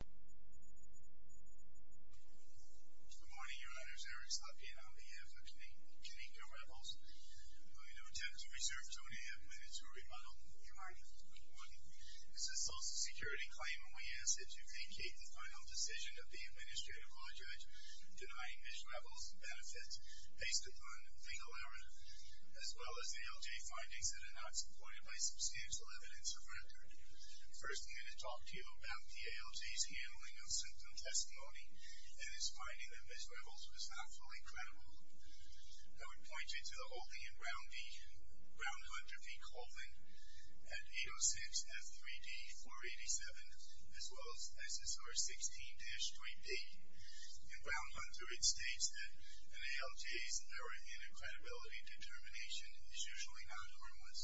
Good morning, Your Honor. Eric Slotkin on behalf of Kanika Revels. I'm going to attempt to reserve Tony a minute to rebuttal. Your Honor. Good morning. This is a Social Security claim, and we ask that you vacate the final decision of the Administrative Law Judge denying Ms. Revels benefits based upon legal error, as well as ALJ findings that are not supported by substantial evidence of record. First, I'm going to talk to you about the ALJ's handling of symptom testimony and its finding that Ms. Revels was not fully credible. I would point you to the holding in Brown Hunter v. Colvin at 806 F3D 487, as well as SSR 16-3B. In Brown Hunter, it states that an ALJ's error in credibility determination is usually not harmless.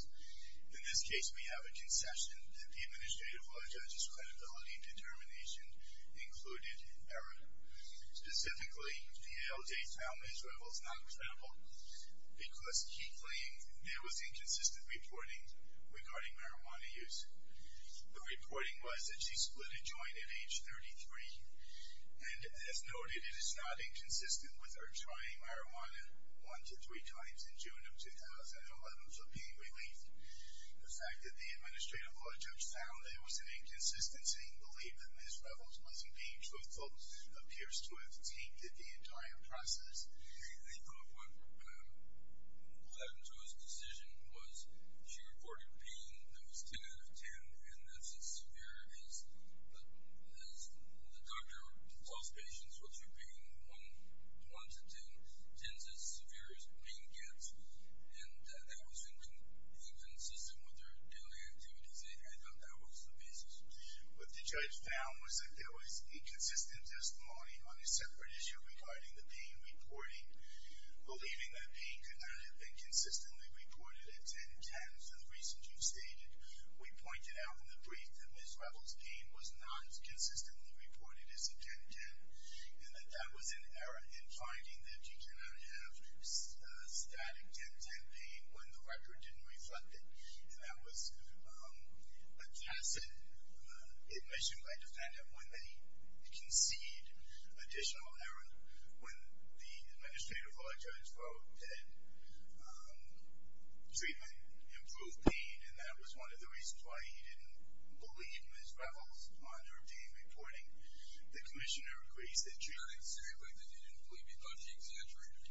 In this case, we have a concession that the Administrative Law Judge's credibility determination included error. Specifically, the ALJ found Ms. Revels not credible because he claimed there was inconsistent reporting regarding marijuana use. The reporting was that she split a joint at age 33, and as noted, it is not inconsistent with her trying marijuana one to three times in June of 2011 in terms of being relieved. The fact that the Administrative Law Judge found there was an inconsistency in belief that Ms. Revels wasn't being truthful appears to have tainted the entire process. I think what happened to his decision was she reported pain that was 10 out of 10, and that's as severe as the doctor tells patients, which would be 1 to 10, 10's as severe as pain gets, and that that was inconsistent with their daily activities. I thought that was the basis. What the judge found was that there was inconsistent testimony on a separate issue regarding the pain reporting, believing that pain could not have been consistently reported at 10-10. For the reasons you've stated, we pointed out in the brief that Ms. Revels' pain was not consistently reported as a 10-10. And that that was an error in finding that she could not have static 10-10 pain when the record didn't reflect it, and that was a tacit admission by defendant when they concede additional error when the Administrative Law Judge wrote that treatment improved pain, and that was one of the reasons why he didn't believe Ms. Revels on her pain reporting. The commissioner agrees that treatment... I didn't say anything that you didn't believe. You thought he exaggerated.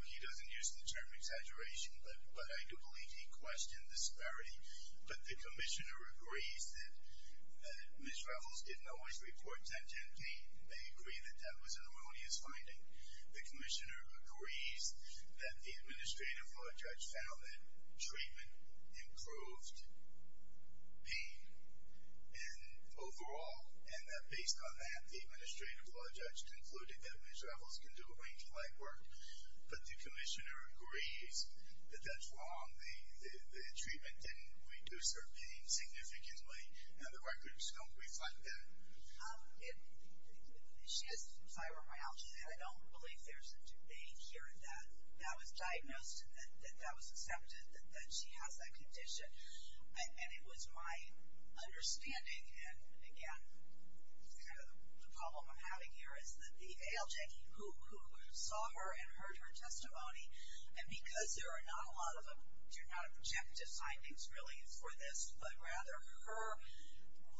Well, he doesn't use the term exaggeration, but I do believe he questioned disparity. But the commissioner agrees that Ms. Revels didn't always report 10-10 pain. They agree that that was an erroneous finding. The commissioner agrees that the Administrative Law Judge found that treatment improved pain. And overall, and that based on that, the Administrative Law Judge concluded that Ms. Revels can do a range of legwork. But the commissioner agrees that that's wrong. The treatment didn't reduce her pain significantly, and the records don't reflect that. She has fibromyalgia, and I don't believe there's a debate here that that was diagnosed and that that was accepted, that she has that condition. And it was my understanding, and again, kind of the problem I'm having here, is that the ALJ who saw her and heard her testimony, and because there are not a lot of objective findings really for this, but rather her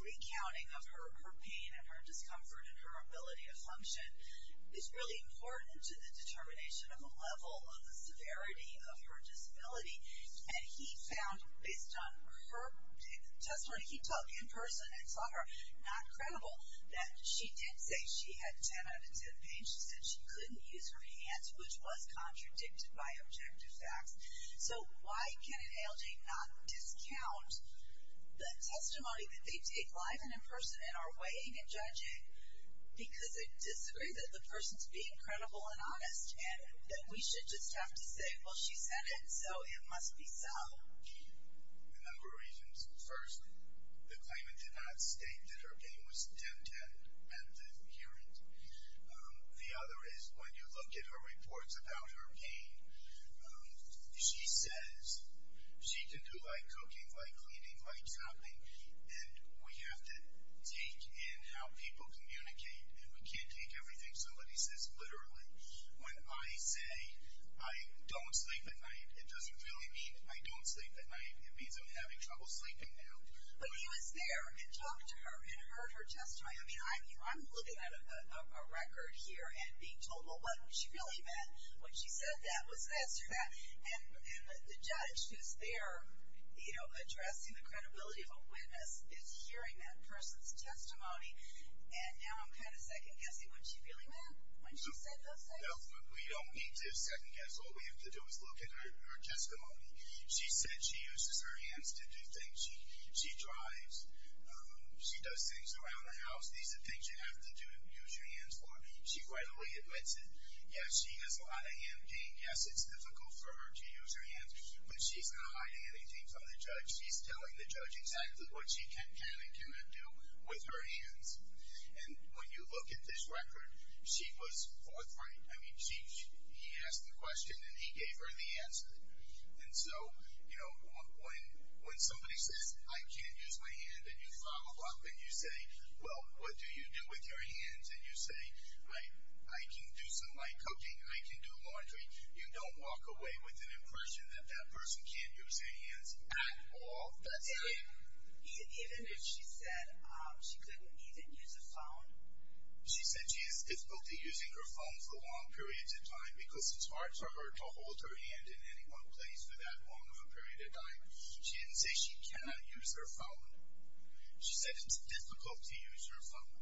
recounting of her pain and her discomfort and her ability to function, is really important to the determination of a level of the severity of her disability. And he found, based on her testimony, he talked in person and saw her not credible, that she did say she had 10 out of 10 pain. She said she couldn't use her hands, which was contradicted by objective facts. So why can an ALJ not discount the testimony that they take live and in person and are weighing and judging? Because they disagree that the person's being credible and honest and that we should just have to say, well, she said it, so it must be so. A number of reasons. First, the claimant did not state that her pain was tempted and adherent. The other is when you look at her reports about her pain, she says she can do light cooking, light cleaning, light shopping, and we have to take in how people communicate, and we can't take everything somebody says literally. When I say I don't sleep at night, it doesn't really mean I don't sleep at night. It means I'm having trouble sleeping now. But he was there and talked to her and heard her testimony. I mean, I'm looking at a record here and being told, well, what she really meant when she said that was this or that. And the judge who's there, you know, addressing the credibility of a witness is hearing that person's testimony. And now I'm kind of second-guessing what she really meant when she said those things. No, we don't need to second-guess. All we have to do is look at her testimony. She said she uses her hands to do things. She drives. She does things around the house. These are things you have to use your hands for. She readily admits it. Yes, she has a lot of hand pain. Yes, it's difficult for her to use her hands, but she's not hiding anything from the judge. She's telling the judge exactly what she can and cannot do with her hands. And when you look at this record, she was forthright. I mean, he asked the question and he gave her the answer. And so, you know, when somebody says, I can't use my hand, and you follow up and you say, well, what do you do with your hands, and you say, I can do some light cooking, I can do laundry, you don't walk away with an impression that that person can't use their hands at all. Even if she said she couldn't even use a phone? She said she has difficulty using her phone for long periods of time because it's hard for her to hold her hand in any one place for that long of a period of time. She didn't say she cannot use her phone. She said it's difficult to use her phone.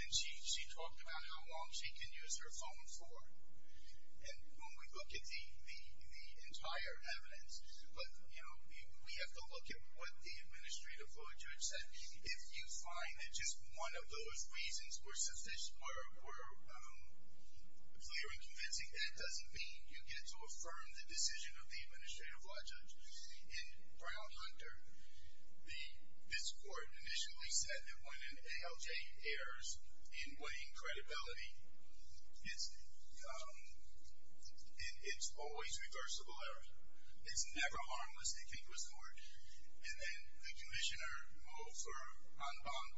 And she talked about how long she can use her phone for. And when we look at the entire evidence, but, you know, we have to look at what the administrative law judge said. If you find that just one of those reasons were clear and convincing, that doesn't mean you get to affirm the decision of the administrative law judge. In Brown Hunter, this court initially said that when an ALJ errs in weighing credibility, it's always reversible error. It's never harmless if it goes forward. And then the commissioner moved for en banc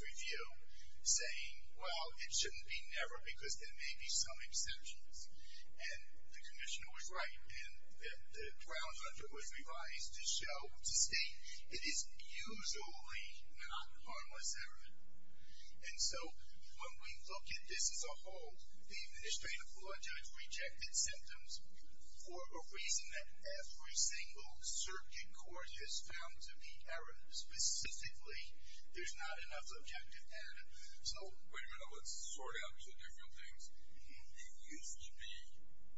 review, saying, well, it shouldn't be never because there may be some exceptions. And the commissioner was right. And the Brown Hunter was revised to state it is usually not harmless error. And so when we look at this as a whole, the administrative law judge rejected symptoms for a reason that every single circuit court has found to be error. Specifically, there's not enough objective evidence. So, wait a minute, let's sort out the different things. It used to be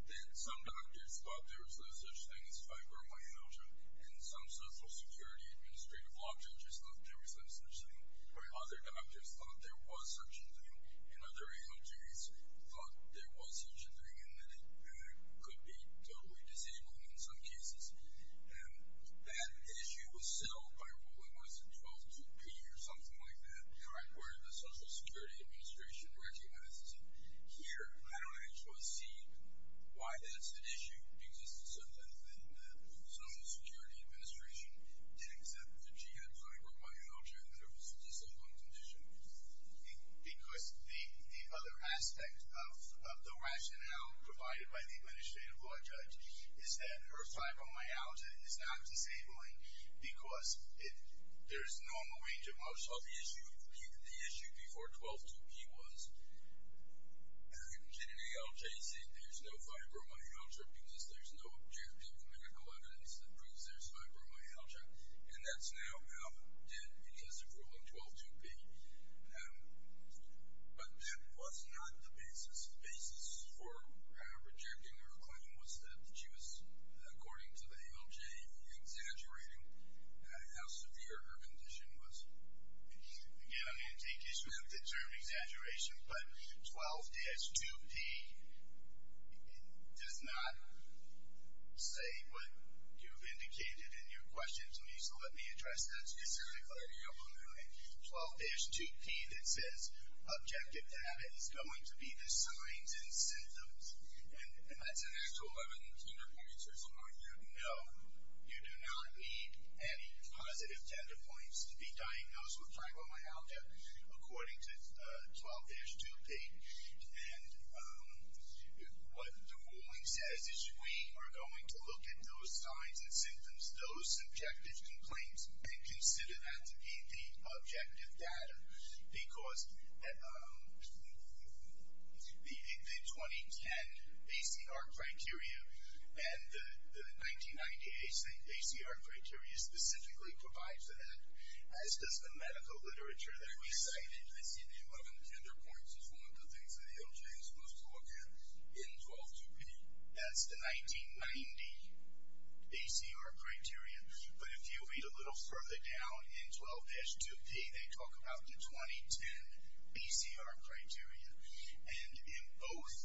that some doctors thought there was no such thing as fibromyalgia. And some social security administrative law judges thought there was no such thing. Other doctors thought there was such a thing. And other ALJs thought there was such a thing and that it could be totally disabling in some cases. And that issue was settled by ruling was in 122P or something like that, where the Social Security Administration recognized it. Here, I don't actually see why that's an issue because the Social Security Administration didn't accept that you had fibromyalgia and that it was a disabling condition. Because the other aspect of the rationale provided by the administrative law judge is that her fibromyalgia is not disabling because there's normal range of motion. Well, the issue before 122P was that an ALJ said there's no fibromyalgia because there's no objective medical evidence that proves there's fibromyalgia. And that's now out dead because of ruling 122P. But that was not the basis. The basis for rejecting her claim was that she was, according to the ALJ, exaggerating how severe her condition was. Again, I'm going to take issue with the term exaggeration. But 12-2P does not say what you've indicated in your question to me. So let me address that specifically. 12-2P that says objective data is going to be the signs and symptoms. And that's an actual evidence. You don't need to answer some more here. According to 12-2P. And what the ruling says is we are going to look at those signs and symptoms, those subjective complaints, and consider that to be the objective data. Because the 2010 ACR criteria and the 1998 ACR criteria specifically provide for that. As does the medical literature that we cited. I see the 11 gender points as one of the things that the ALJ is supposed to look at in 12-2P. That's the 1990 ACR criteria. But if you read a little further down in 12-2P, they talk about the 2010 ACR criteria. And in both,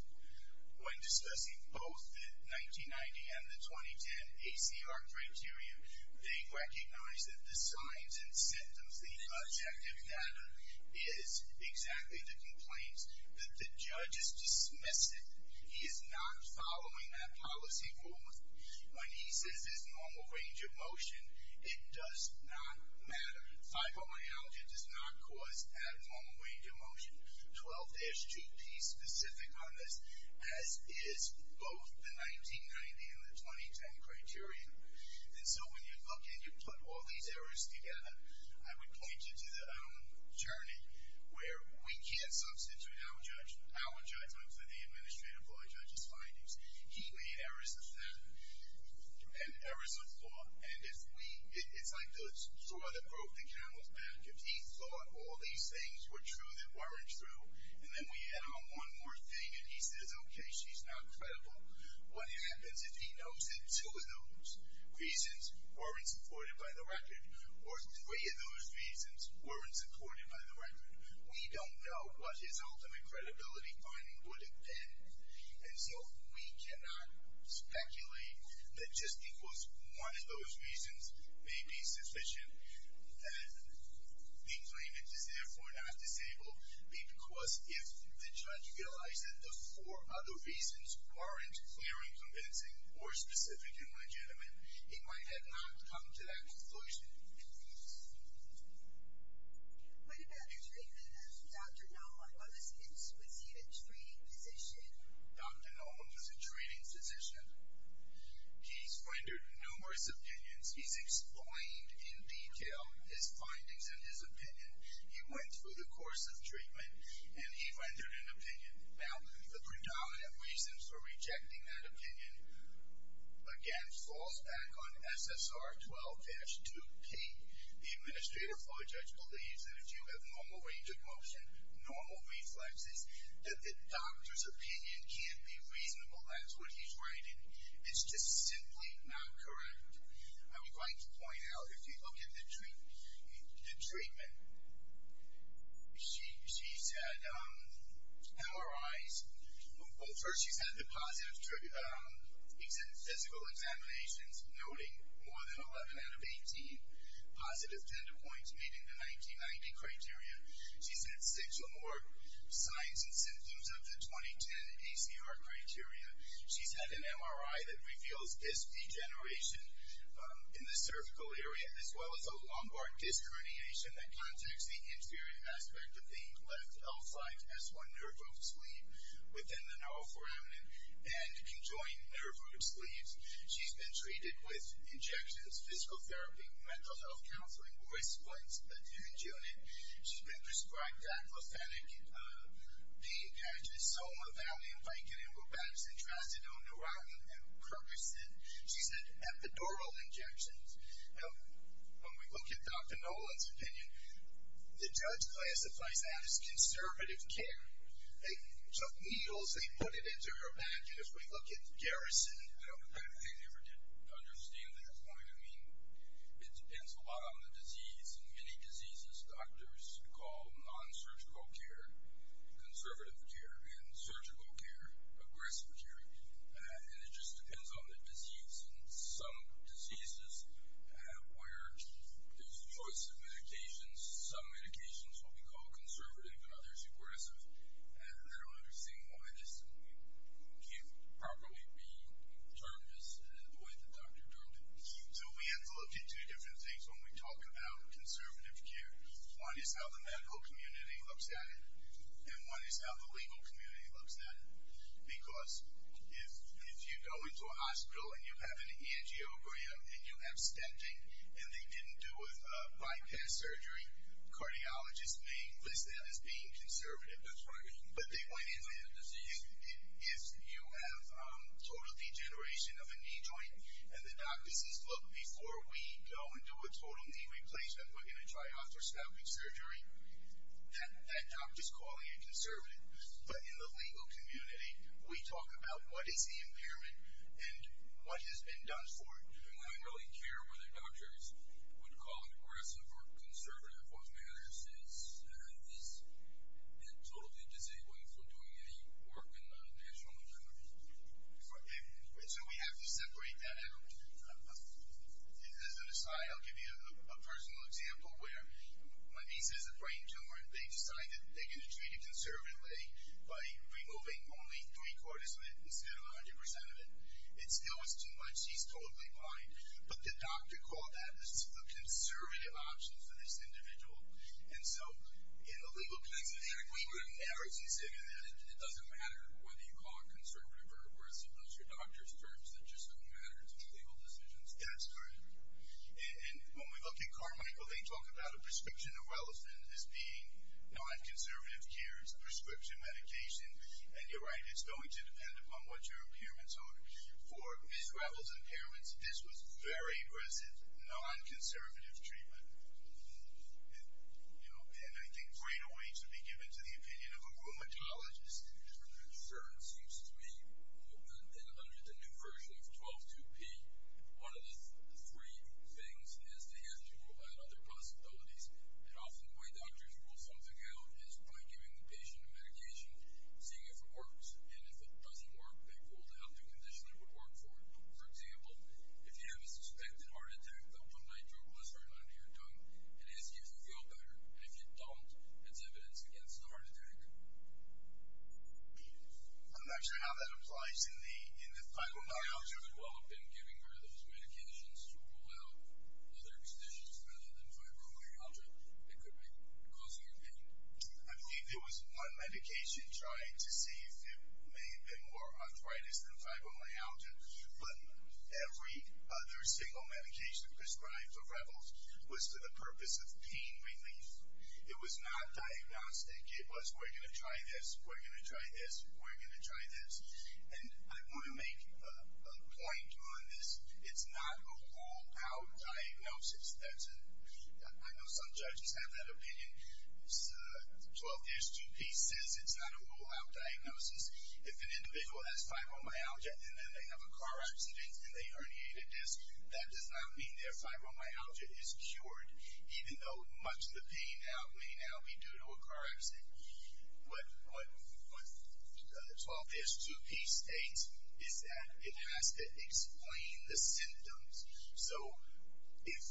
when discussing both the 1990 and the 2010 ACR criteria, they recognize that the signs and symptoms, the objective data, is exactly the complaints that the judge has dismissed it. He is not following that policy forward. When he says it's normal range of motion, it does not matter. 5.1 ALJ does not cause abnormal range of motion. 12-2P is specific on this, as is both the 1990 and the 2010 criteria. And so when you look and you put all these errors together, I would point you to the own journey where we can't substitute our judgment for the administrative lawyer judge's findings. He made errors of that and errors of law. And it's like the straw that broke the camel's back. If he thought all these things were true that weren't true, and then we add on one more thing and he says, okay, she's not credible, what happens if he knows that two of those reasons weren't supported by the record? Or three of those reasons weren't supported by the record? We don't know what his ultimate credibility finding would have been. And so we cannot speculate that just because one of those reasons may be sufficient that the claimant is therefore not disabled because if the judge realized that the four other reasons weren't clear and convincing or specific and legitimate, he might have not come to that conclusion. What about the treatment of Dr. Nolum? Was he a treating physician? Dr. Nolum was a treating physician. He's rendered numerous opinions. He's explained in detail his findings and his opinion. He went through the course of treatment and he rendered an opinion. Now, the predominant reason for rejecting that opinion, again, falls back on SSR 12-2P. The Administrative Law Judge believes that if you have normal range of motion, normal reflexes, that the doctor's opinion can't be reasonable. That's what he's writing. It's just simply not correct. I would like to point out, if you look at the treatment, she's had MRIs. First, she's had the positive physical examinations noting more than 11 out of 18 positive tender points meeting the 1990 criteria. She's had six or more signs and symptoms of the 2010 ACR criteria. She's had an MRI that reveals disc degeneration in the cervical area, as well as a lumbar disc herniation that contacts the inferior aspect of the left L-site, S1 nerve root sleeve, within the neuroforamen and conjoined nerve root sleeves. She's been treated with injections, physical therapy, mental health counseling, or a splint, a tange unit. She's been prescribed aplophenic pain patches, Soma, Valium, Vicodin, Robaxin, Tracidone, Neurotin, and Percocet. She's had epidural injections. Now, when we look at Dr. Nolan's opinion, the judge classifies that as conservative care. They took needles, they put it into her vag, and if we look at Garrison, I don't think they ever did understand their point. I mean, it depends a lot on the disease. In many diseases, doctors call non-surgical care conservative care and surgical care aggressive care. And it just depends on the disease. In some diseases where there's a choice of medications, some medications will be called conservative and others aggressive. I don't understand why this can't properly be termed as the way the doctor termed it. So we have to look at two different things when we talk about conservative care. One is how the medical community looks at it, and one is how the legal community looks at it. Because if you go into a hospital and you have an angiogram, and you have stenting, and they didn't do a bypass surgery, cardiologists may list that as being conservative. That's right. But they might say, if you have total degeneration of a knee joint, and the doctor says, look, before we go and do a total knee replacement, we're going to try osteoscopic surgery, that doctor's calling it conservative. But in the legal community, we talk about what is the impairment and what has been done for it. I don't really care whether doctors would call it aggressive or conservative. What matters is it totally disabling for doing any work in the national community. So we have to separate that out. As an aside, I'll give you a personal example where my niece has a brain tumor, and they've decided that they're going to treat it conservatively by removing only three quarters of it instead of 100 percent of it. It still is too much. She's totally blind. But the doctor called that a conservative option for this individual. And so in the legal community, we would have never considered that. It doesn't matter whether you call it conservative or aggressive. Those are doctor's terms that just don't matter to legal decisions. That's right. And when we look at Carmichael, they talk about a prescription of wellness as being non-conservative care. It's a prescription medication. And you're right. It's going to depend upon what your impairments are. For Ms. Gravel's impairments, this was very aggressive, non-conservative treatment. And I think greater weight should be given to the opinion of a rheumatologist. Sir, it seems to me that under the new version of 12-2P, one of the three things is to have to provide other possibilities. And often the way doctors rule something out is by giving the patient a medication, seeing if it works. And if it doesn't work, they pull it out to a condition that would work for it. For example, if you have a suspected heart attack, the one nitroglycerin under your tongue, it is easier to feel better. And if you don't, it's evidence against the heart attack. I'm not sure how that applies in the fibromyalgia. Fibromyalgia could well have been giving her those medications to rule out other conditions rather than fibromyalgia. It could be causing her pain. I believe there was one medication trying to see if it may have been more arthritis than fibromyalgia. But every other single medication prescribed for Gravel's was for the purpose of pain relief. It was not diagnostic. It was, we're going to try this, we're going to try this, we're going to try this. And I want to make a point on this. It's not a rule-out diagnosis. I know some judges have that opinion. 12-H2P says it's not a rule-out diagnosis. If an individual has fibromyalgia and then they have a car accident and they herniate a disc, that does not mean their fibromyalgia is cured, even though much of the pain may now be due to a car accident. What 12-H2P states is that it has to explain the symptoms. So if,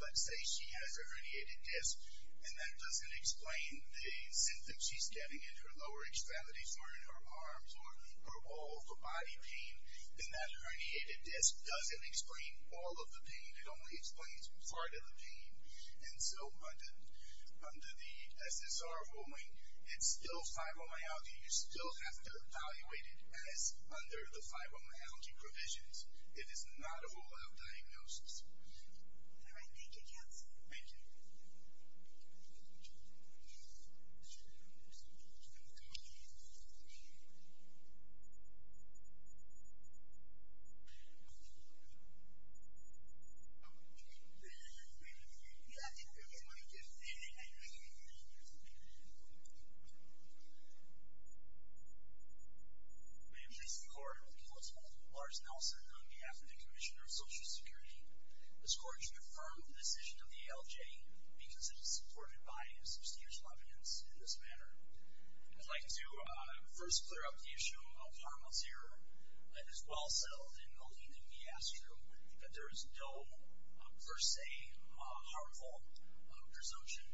let's say, she has a herniated disc and that doesn't explain the symptoms she's getting in her lower extremities or in her arms or her whole body pain, then that herniated disc doesn't explain all of the pain. It only explains part of the pain. And so under the SSR ruling, it's still fibromyalgia. You still have to evaluate it as under the fibromyalgia provisions. It is not a rule-out diagnosis. All right. Thank you, Jens. Thank you. Thank you. May it please the Court, the Court is called. Lars Nelson, on behalf of the Commissioner of Social Security, is called to affirm the decision of the ALJ because it is supported by substantial evidence in this manner. I'd like to first clear up the issue of harmless error. It is well-settled in the lean and viastro that there is no per se harmful presumption.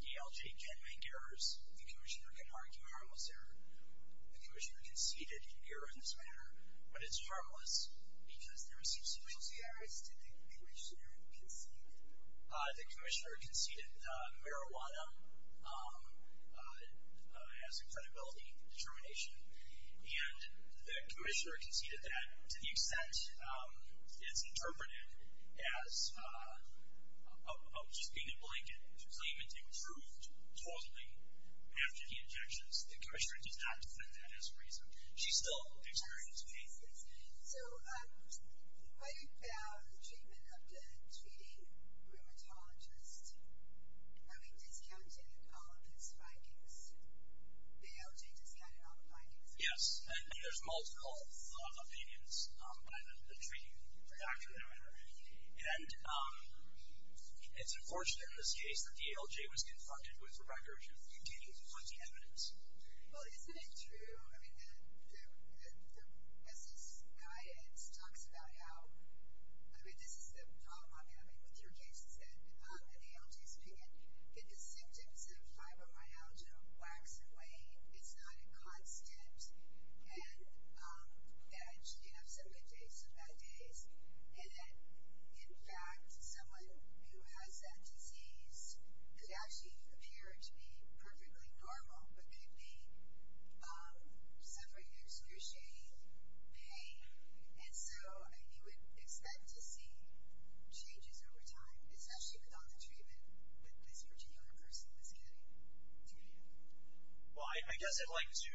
The ALJ can make errors. The Commissioner can argue harmless error. The Commissioner conceded an error in this manner, but it's harmless because there is substantial evidence. Did the Commissioner concede that? The Commissioner conceded marijuana as a credibility determination, and the Commissioner conceded that to the extent it's interpreted as just being a blanket claimant improved totally after the injections. She still experienced pain. So when you found the treatment of the treating rheumatologist, are we discounting all of his findings? The ALJ discounted all the findings? Yes. And there's multiple opinions by the treating doctor, no matter. And it's unfortunate in this case that the ALJ was confronted with records of obtaining plenty of evidence. Well, isn't it true? I mean, as this guidance talks about how, I mean, this is the problem, I mean, with your cases and the ALJ's opinion, that the symptoms of fibromyalgia wax and wane. It's not a constant, and that you have some good days, some bad days, and that, in fact, someone who has that disease could actually appear to be perfectly normal, but could be suffering through scrutiny, pain. And so you would expect to see changes over time, especially without the treatment that this particular person is getting through you. Well, I guess I'd like to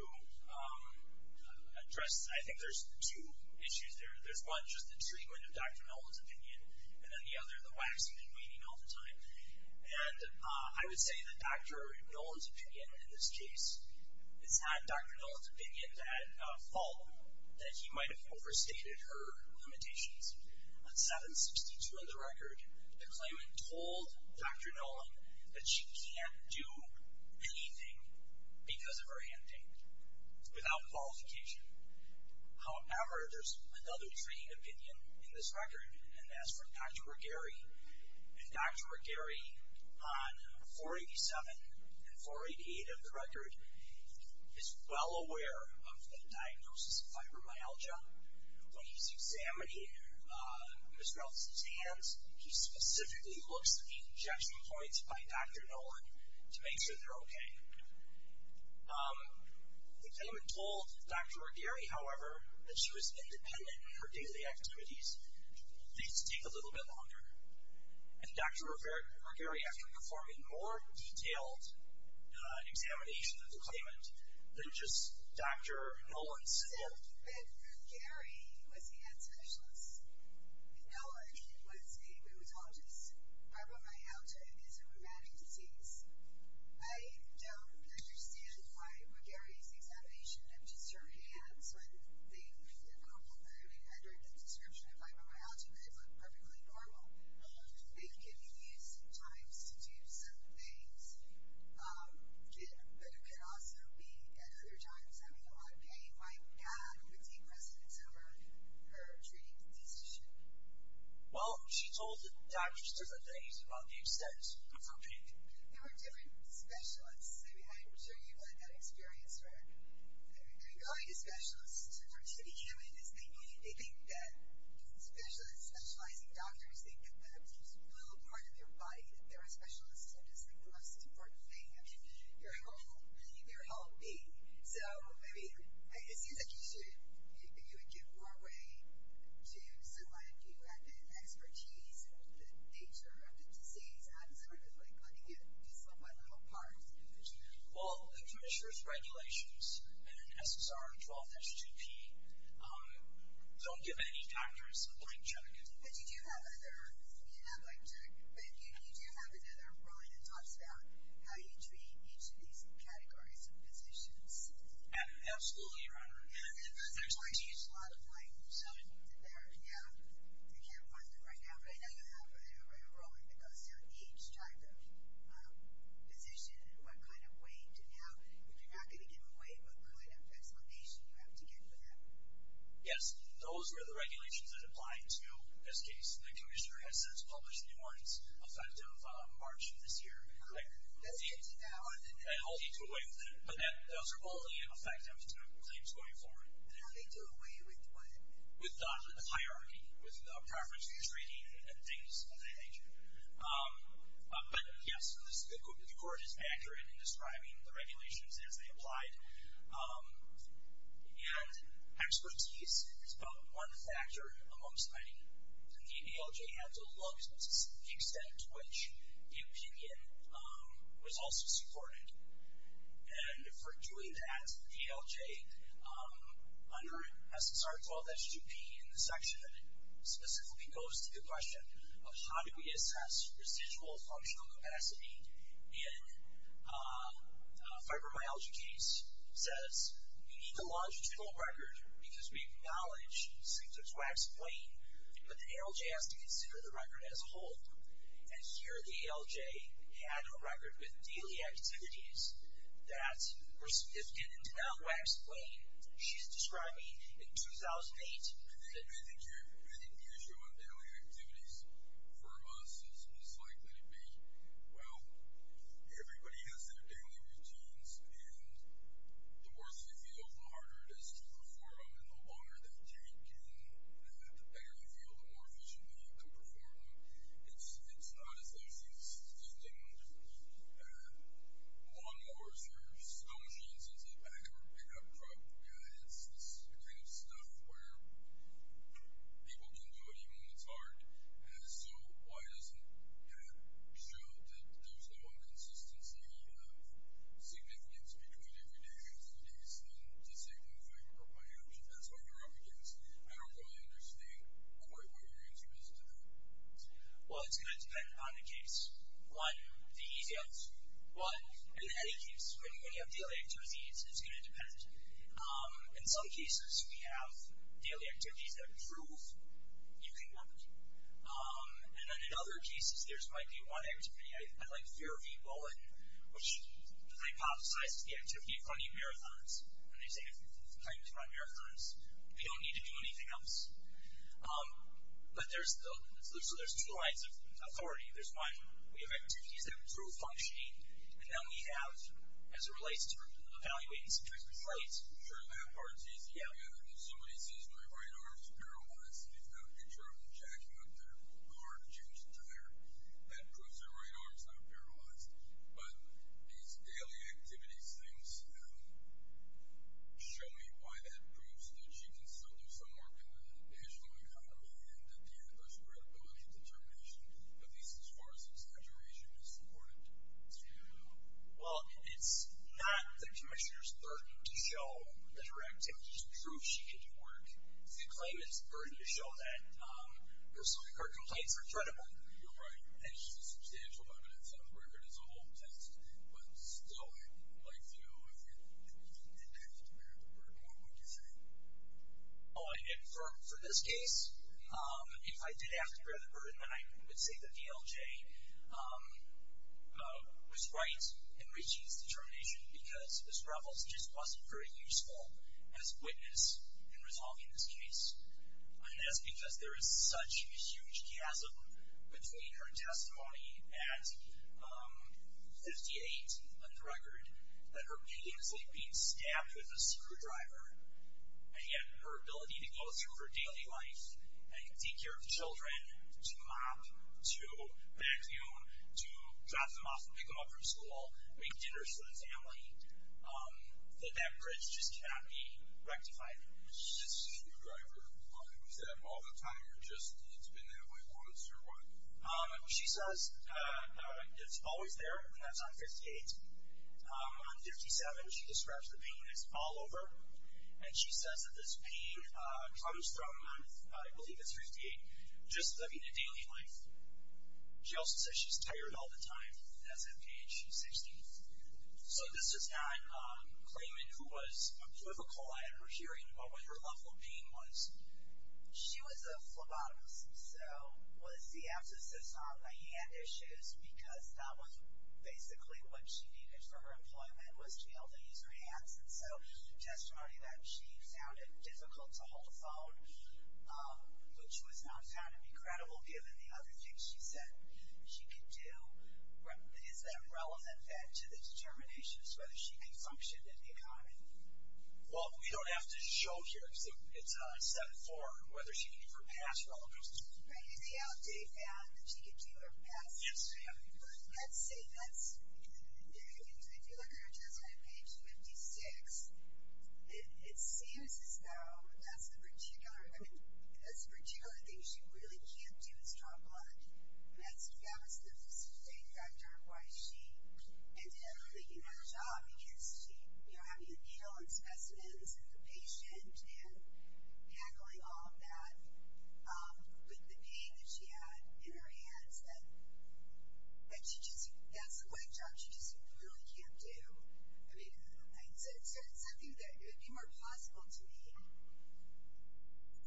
address, I think there's two issues there. There's one, just the treatment of Dr. Nolan's opinion, and then the other, the wax and waning all the time. And I would say that Dr. Nolan's opinion in this case, it's not Dr. Nolan's opinion at fault that he might have overstated her limitations. On 7-62 on the record, the claimant told Dr. Nolan that she can't do anything because of her hand pain, without qualification. However, there's another training opinion in this record, and that's from Dr. Regheri. And Dr. Regheri, on 4-87 and 4-88 of the record, is well aware of the diagnosis of fibromyalgia. When he's examining Ms. Nelson's hands, he specifically looks at the injection points by Dr. Nolan to make sure they're okay. The claimant told Dr. Regheri, however, that she was independent in her daily activities, these take a little bit longer. And Dr. Regheri actually performed a more detailed examination of the claimant than just Dr. Nolan's. It wasn't that Regheri was the hand specialist. Nolan was a rheumatologist. Fibromyalgia is a rheumatic disease. I don't understand why Regheri's examination of just her hands under the description of fibromyalgia could look perfectly normal. It could be used sometimes to do certain things, but it could also be, at other times, having a lot of pain. Like, yeah, it would take precedence over her treating the disease. Well, she told the diagnostics at the age of about the extent of her pain. There were different specialists. I'm sure you've had that experience where going to specialists, in order to be human, is they think that specialists, specializing doctors, think that there's a little part of your body that they're a specialist and just think the most important thing is your health, your well-being. So, I mean, it seems like you would give more weight to someone if you had the expertise and the nature of the disease as opposed to, like, letting it dislocate a little part. Well, the treaters' regulations in SSR 12-SGP don't give any doctors a blank check. But you do have other, you have a blank check, but you do have another line that talks about how you treat each of these categories of physicians. Absolutely, Your Honor. And there's a lot of blanks in there. Yeah, you can't find them right now, but I know you have a rolling that goes through each type of physician and what kind of weight and how, but you're not going to give away what kind of explanation you have to give for that. Yes, those are the regulations that apply to this case. The commissioner has since published New Orleans' effective margin this year. Those get devoured. But those are only effective to claims going forward. And how do they do away with what? With the hierarchy, with the preference for treating and things of that nature. But, yes, the court is accurate in describing the regulations as they applied. And expertise is about one factor amongst many. And the ALJ had to look to the extent to which the opinion was also supported. And for doing that, the ALJ, under SSR 12-SGP, in the section that specifically goes to the question of how do we assess residual functional capacity in a fibromyalgia case, says we need a longitudinal record because we acknowledge symptoms waxed plain, but the ALJ has to consider the record as whole. And here the ALJ had a record with daily activities that were significant and did not wax plain. She's describing in 2008 I think the issue on daily activities for us is likely to be, well, everybody has their daily routines, and the worse they feel, the harder it is to perform them, and the longer they take, and the better you feel, the more efficiently you can perform them. It's not as though there's these stinking lawnmowers or snow machines inside the back of our pickup truck. Yeah, it's the kind of stuff where people can do it even when it's hard. And so why doesn't that show that there's no consistency of significance between everyday activities and the symptoms of fibromyalgia? That's what you're up against. I don't really understand quite what your answer is to that. Well, it's going to depend on the case. One, the easy ones. One, in any case, when you have daily activities, it's going to depend. In some cases, we have daily activities that improve using memory. And then in other cases, there might be one activity, I like Fairview Bulletin, which hypothesizes the activity of running marathons, and they say if we plan to run marathons, we don't need to do anything else. But there's two lines of authority. There's one, we have activities that improve functioning, and then we have, as it relates to evaluating specific sites. Sure, that part's easy. If somebody says my right arm's paralyzed, and they've got a picture of them jacking up their car to change the tire, that proves their right arm's not paralyzed. But these daily activities things show me why that proves that you can still do some work in the national economy and that there's credibility and determination, at least as far as exaggeration is concerned. Well, it's not the commissioner's burden to show that her activities prove she can do work. The claimant's burden to show that her complaints are credible. You're right. And she's a substantial evidence on the record as a whole test. But still, if you didn't have to bear the burden, what would you say? For this case, if I did have to bear the burden then I would say the VLJ was right in reaching its determination because Ms. Ruffles just wasn't very useful as witness in resolving this case. And that's because there is such a huge chasm between her testimony at 58, on the record, that her pain is like being stabbed with a screwdriver, and yet her ability to go through her daily life and take care of children, to mop, to vacuum, to drop them off and pick them up from school, make dinners for the family, that that bridge just cannot be rectified. This screwdriver, is that all the time or just it's been that way once or what? She says it's always there. And that's on 58. On 57, she describes the pain as all over. And she says that this pain comes from, I believe it's 58, just living a daily life. She also says she's tired all the time. That's at 58. She's 60. So this is not claiming who was a political eye at her hearing, but what her level of pain was. She was a phlebotomist, so was the abscissist on the hand issues because that was basically what she needed for her employment was to be able to use her hands. And so the testimony that she found it difficult to hold a phone, which was not found to be credible given the other things she said she could do, is that relevant then to the determination as to whether she can function in the economy? Well, we don't have to show here. It's on 74, whether she can keep her pass or not. Right. And the outdate found that she could keep her pass. Yes, ma'am. Let's see. That's very interesting. If you look at her testimony, page 56, it seems as though that's the particular thing she really can't do is draw blood. And that was the main factor why she ended up taking that job because she, you know, having a needle and specimens and the patient and tackling all of that with the pain that she had in her hands. And she just, that's the one job she just really can't do. I mean, it's something that would be more possible to me,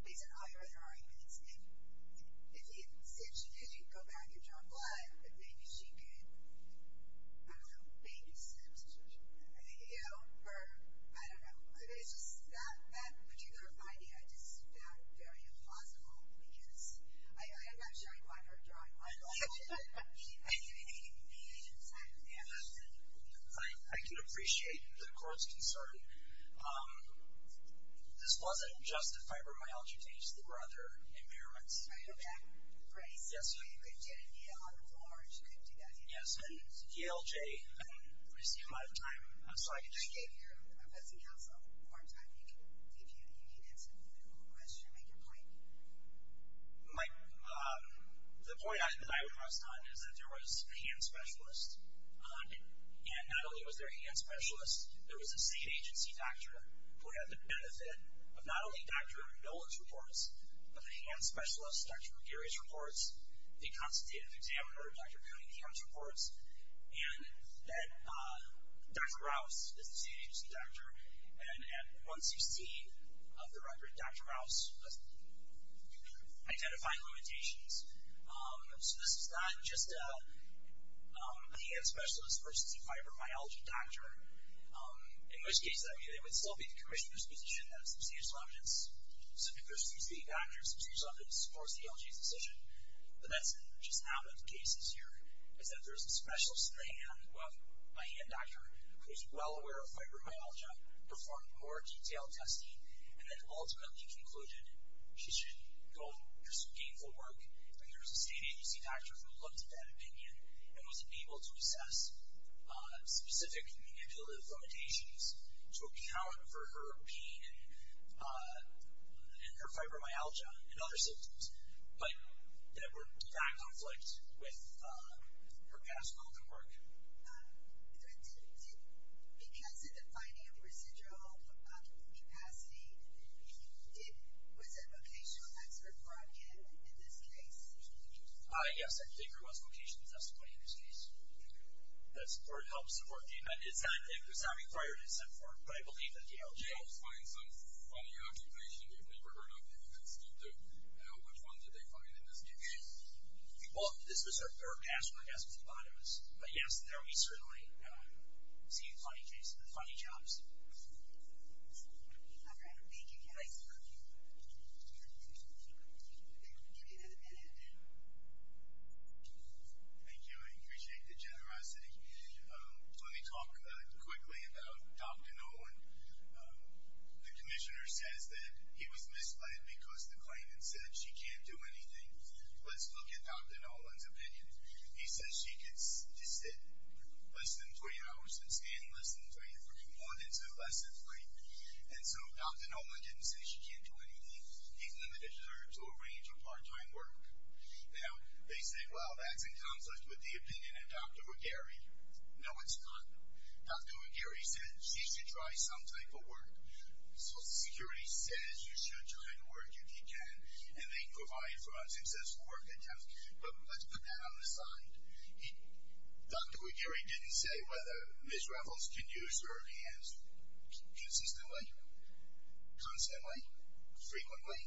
based on all your other arguments. If she did, she could go back and draw blood, but maybe she could, I don't know, babysit. You know, or I don't know. I mean, it's just that particular finding I just found very implausible because I'm not sure I'd want her drawing blood. I can appreciate the court's concern. This wasn't just a fibromyalgia case. There were other impairments. I heard that phrase. Yes, ma'am. She had a needle on the floor and she couldn't do that. Yes, and DLJ, I see I'm out of time. So I could just... I gave you, I've got some time. You can answer the question, make your point. The point that I would rest on is that there was a hand specialist. And not only was there a hand specialist, there was a state agency doctor who had the benefit of not only Dr. Nola's reports, but a hand specialist, Dr. McGarry's reports, the constitutive examiner, Dr. Coney Ham's reports, and that Dr. Rouse, the state agency doctor, and at 116 of the record, Dr. Rouse was identifying limitations. So this was not just a hand specialist versus a fibromyalgia doctor. In most cases, I mean, it would still be the commissioner's position that substantial evidence, specifically if there's three state doctors, and two of them support DLJ's decision. But that's just not what the case is here. It's that there's a special hand doctor who is well aware of fibromyalgia, performed more detailed testing, and then ultimately concluded she should go pursue gainful work. But there was a state agency doctor who looked at that opinion and wasn't able to assess specific manipulative limitations to account for her pain and her fibromyalgia and other symptoms that were in direct conflict with her past work. Because of the finding of residual capacity, was a vocational expert brought in in this case? Yes, I think there was vocational testimony in this case. That support helps support DLJ. It's not required to support, but I believe that DLJ helps. They helped find some funny occupation. You've never heard of it. You can speak to how much fun did they find in this case? Well, this was her past work as a phlebotomist. But yes, there we certainly see funny jobs. All right. Thank you, guys. We'll give you another minute. Thank you. Thank you. I appreciate the generosity. Let me talk quickly about Dr. Nolan. The commissioner says that he was misled because the claimant said, she can't do anything. Let's look at Dr. Nolan's opinion. He says she could sit less than three hours and stand less than three hours, more than two, less than three. And so Dr. Nolan didn't say she can't do anything. He's limited to her range of part-time work. Now, they say, well, that's in conflict with the opinion of Dr. McGarry. No, it's not. Dr. McGarry said she should try some type of work. Social Security says you should try to work if you can, and they provide for unsuccessful work attempts. But let's put that on the side. Dr. McGarry didn't say whether Ms. Raffles can use her hands consistently, constantly, frequently,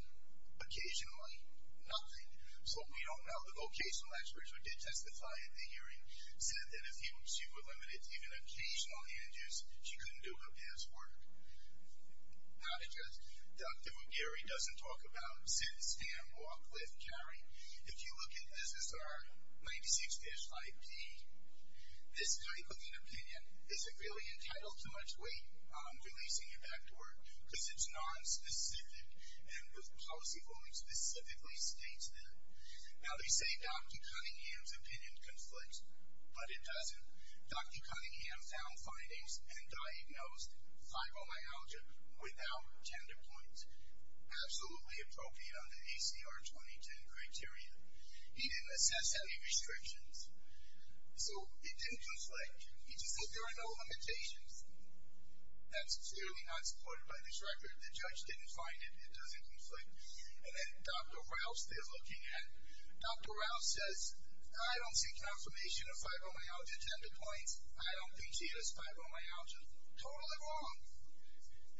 occasionally, nothing. So we don't know. The vocational experts who did testify at the hearing said that if she were limited to even occasional hand use, she couldn't do her best work. Not just Dr. McGarry doesn't talk about sit, stand, walk, lift, carry. If you look at SSR 96-5P, this type of an opinion isn't really entitled to much weight. I'm releasing it back to work. Because it's nonspecific and the policy ruling specifically states that. Now, they say Dr. Cunningham's opinion conflicts, but it doesn't. Dr. Cunningham found findings and diagnosed fibromyalgia without gender points, absolutely appropriate under ACR 2010 criteria. He didn't assess any restrictions. So it didn't conflict. He just said there are no limitations. That's clearly not supported by this record. The judge didn't find it. It doesn't conflict. And then Dr. Rouse, they're looking at. Dr. Rouse says, I don't see confirmation of fibromyalgia gender points. I don't think she has fibromyalgia. Totally wrong.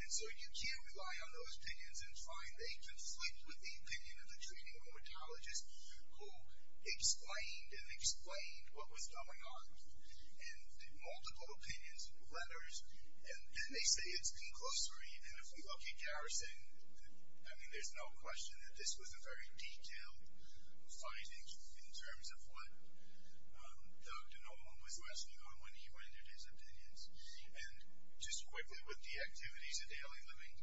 And so you can't rely on those opinions and find they conflict with the opinion of the treating rheumatologist who explained and explained what was going on. And multiple opinions, letters, and they say it's conclusory. And if we look at Garrison, I mean, there's no question that this was a very detailed finding in terms of what Dr. Nolan was wrestling on when he rendered his opinions. And just quickly with the activities of daily living,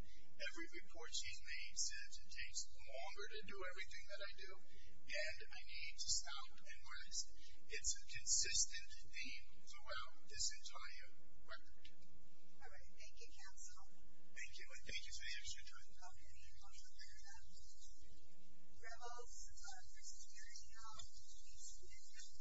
every report she's made says it takes longer to do everything that I do, and I need to stop and rest. It's a consistent theme throughout this entire record. All right. Thank you, counsel. Thank you, and thank you for the extra time. Okay, and I'll defer to Rebels for securing our case.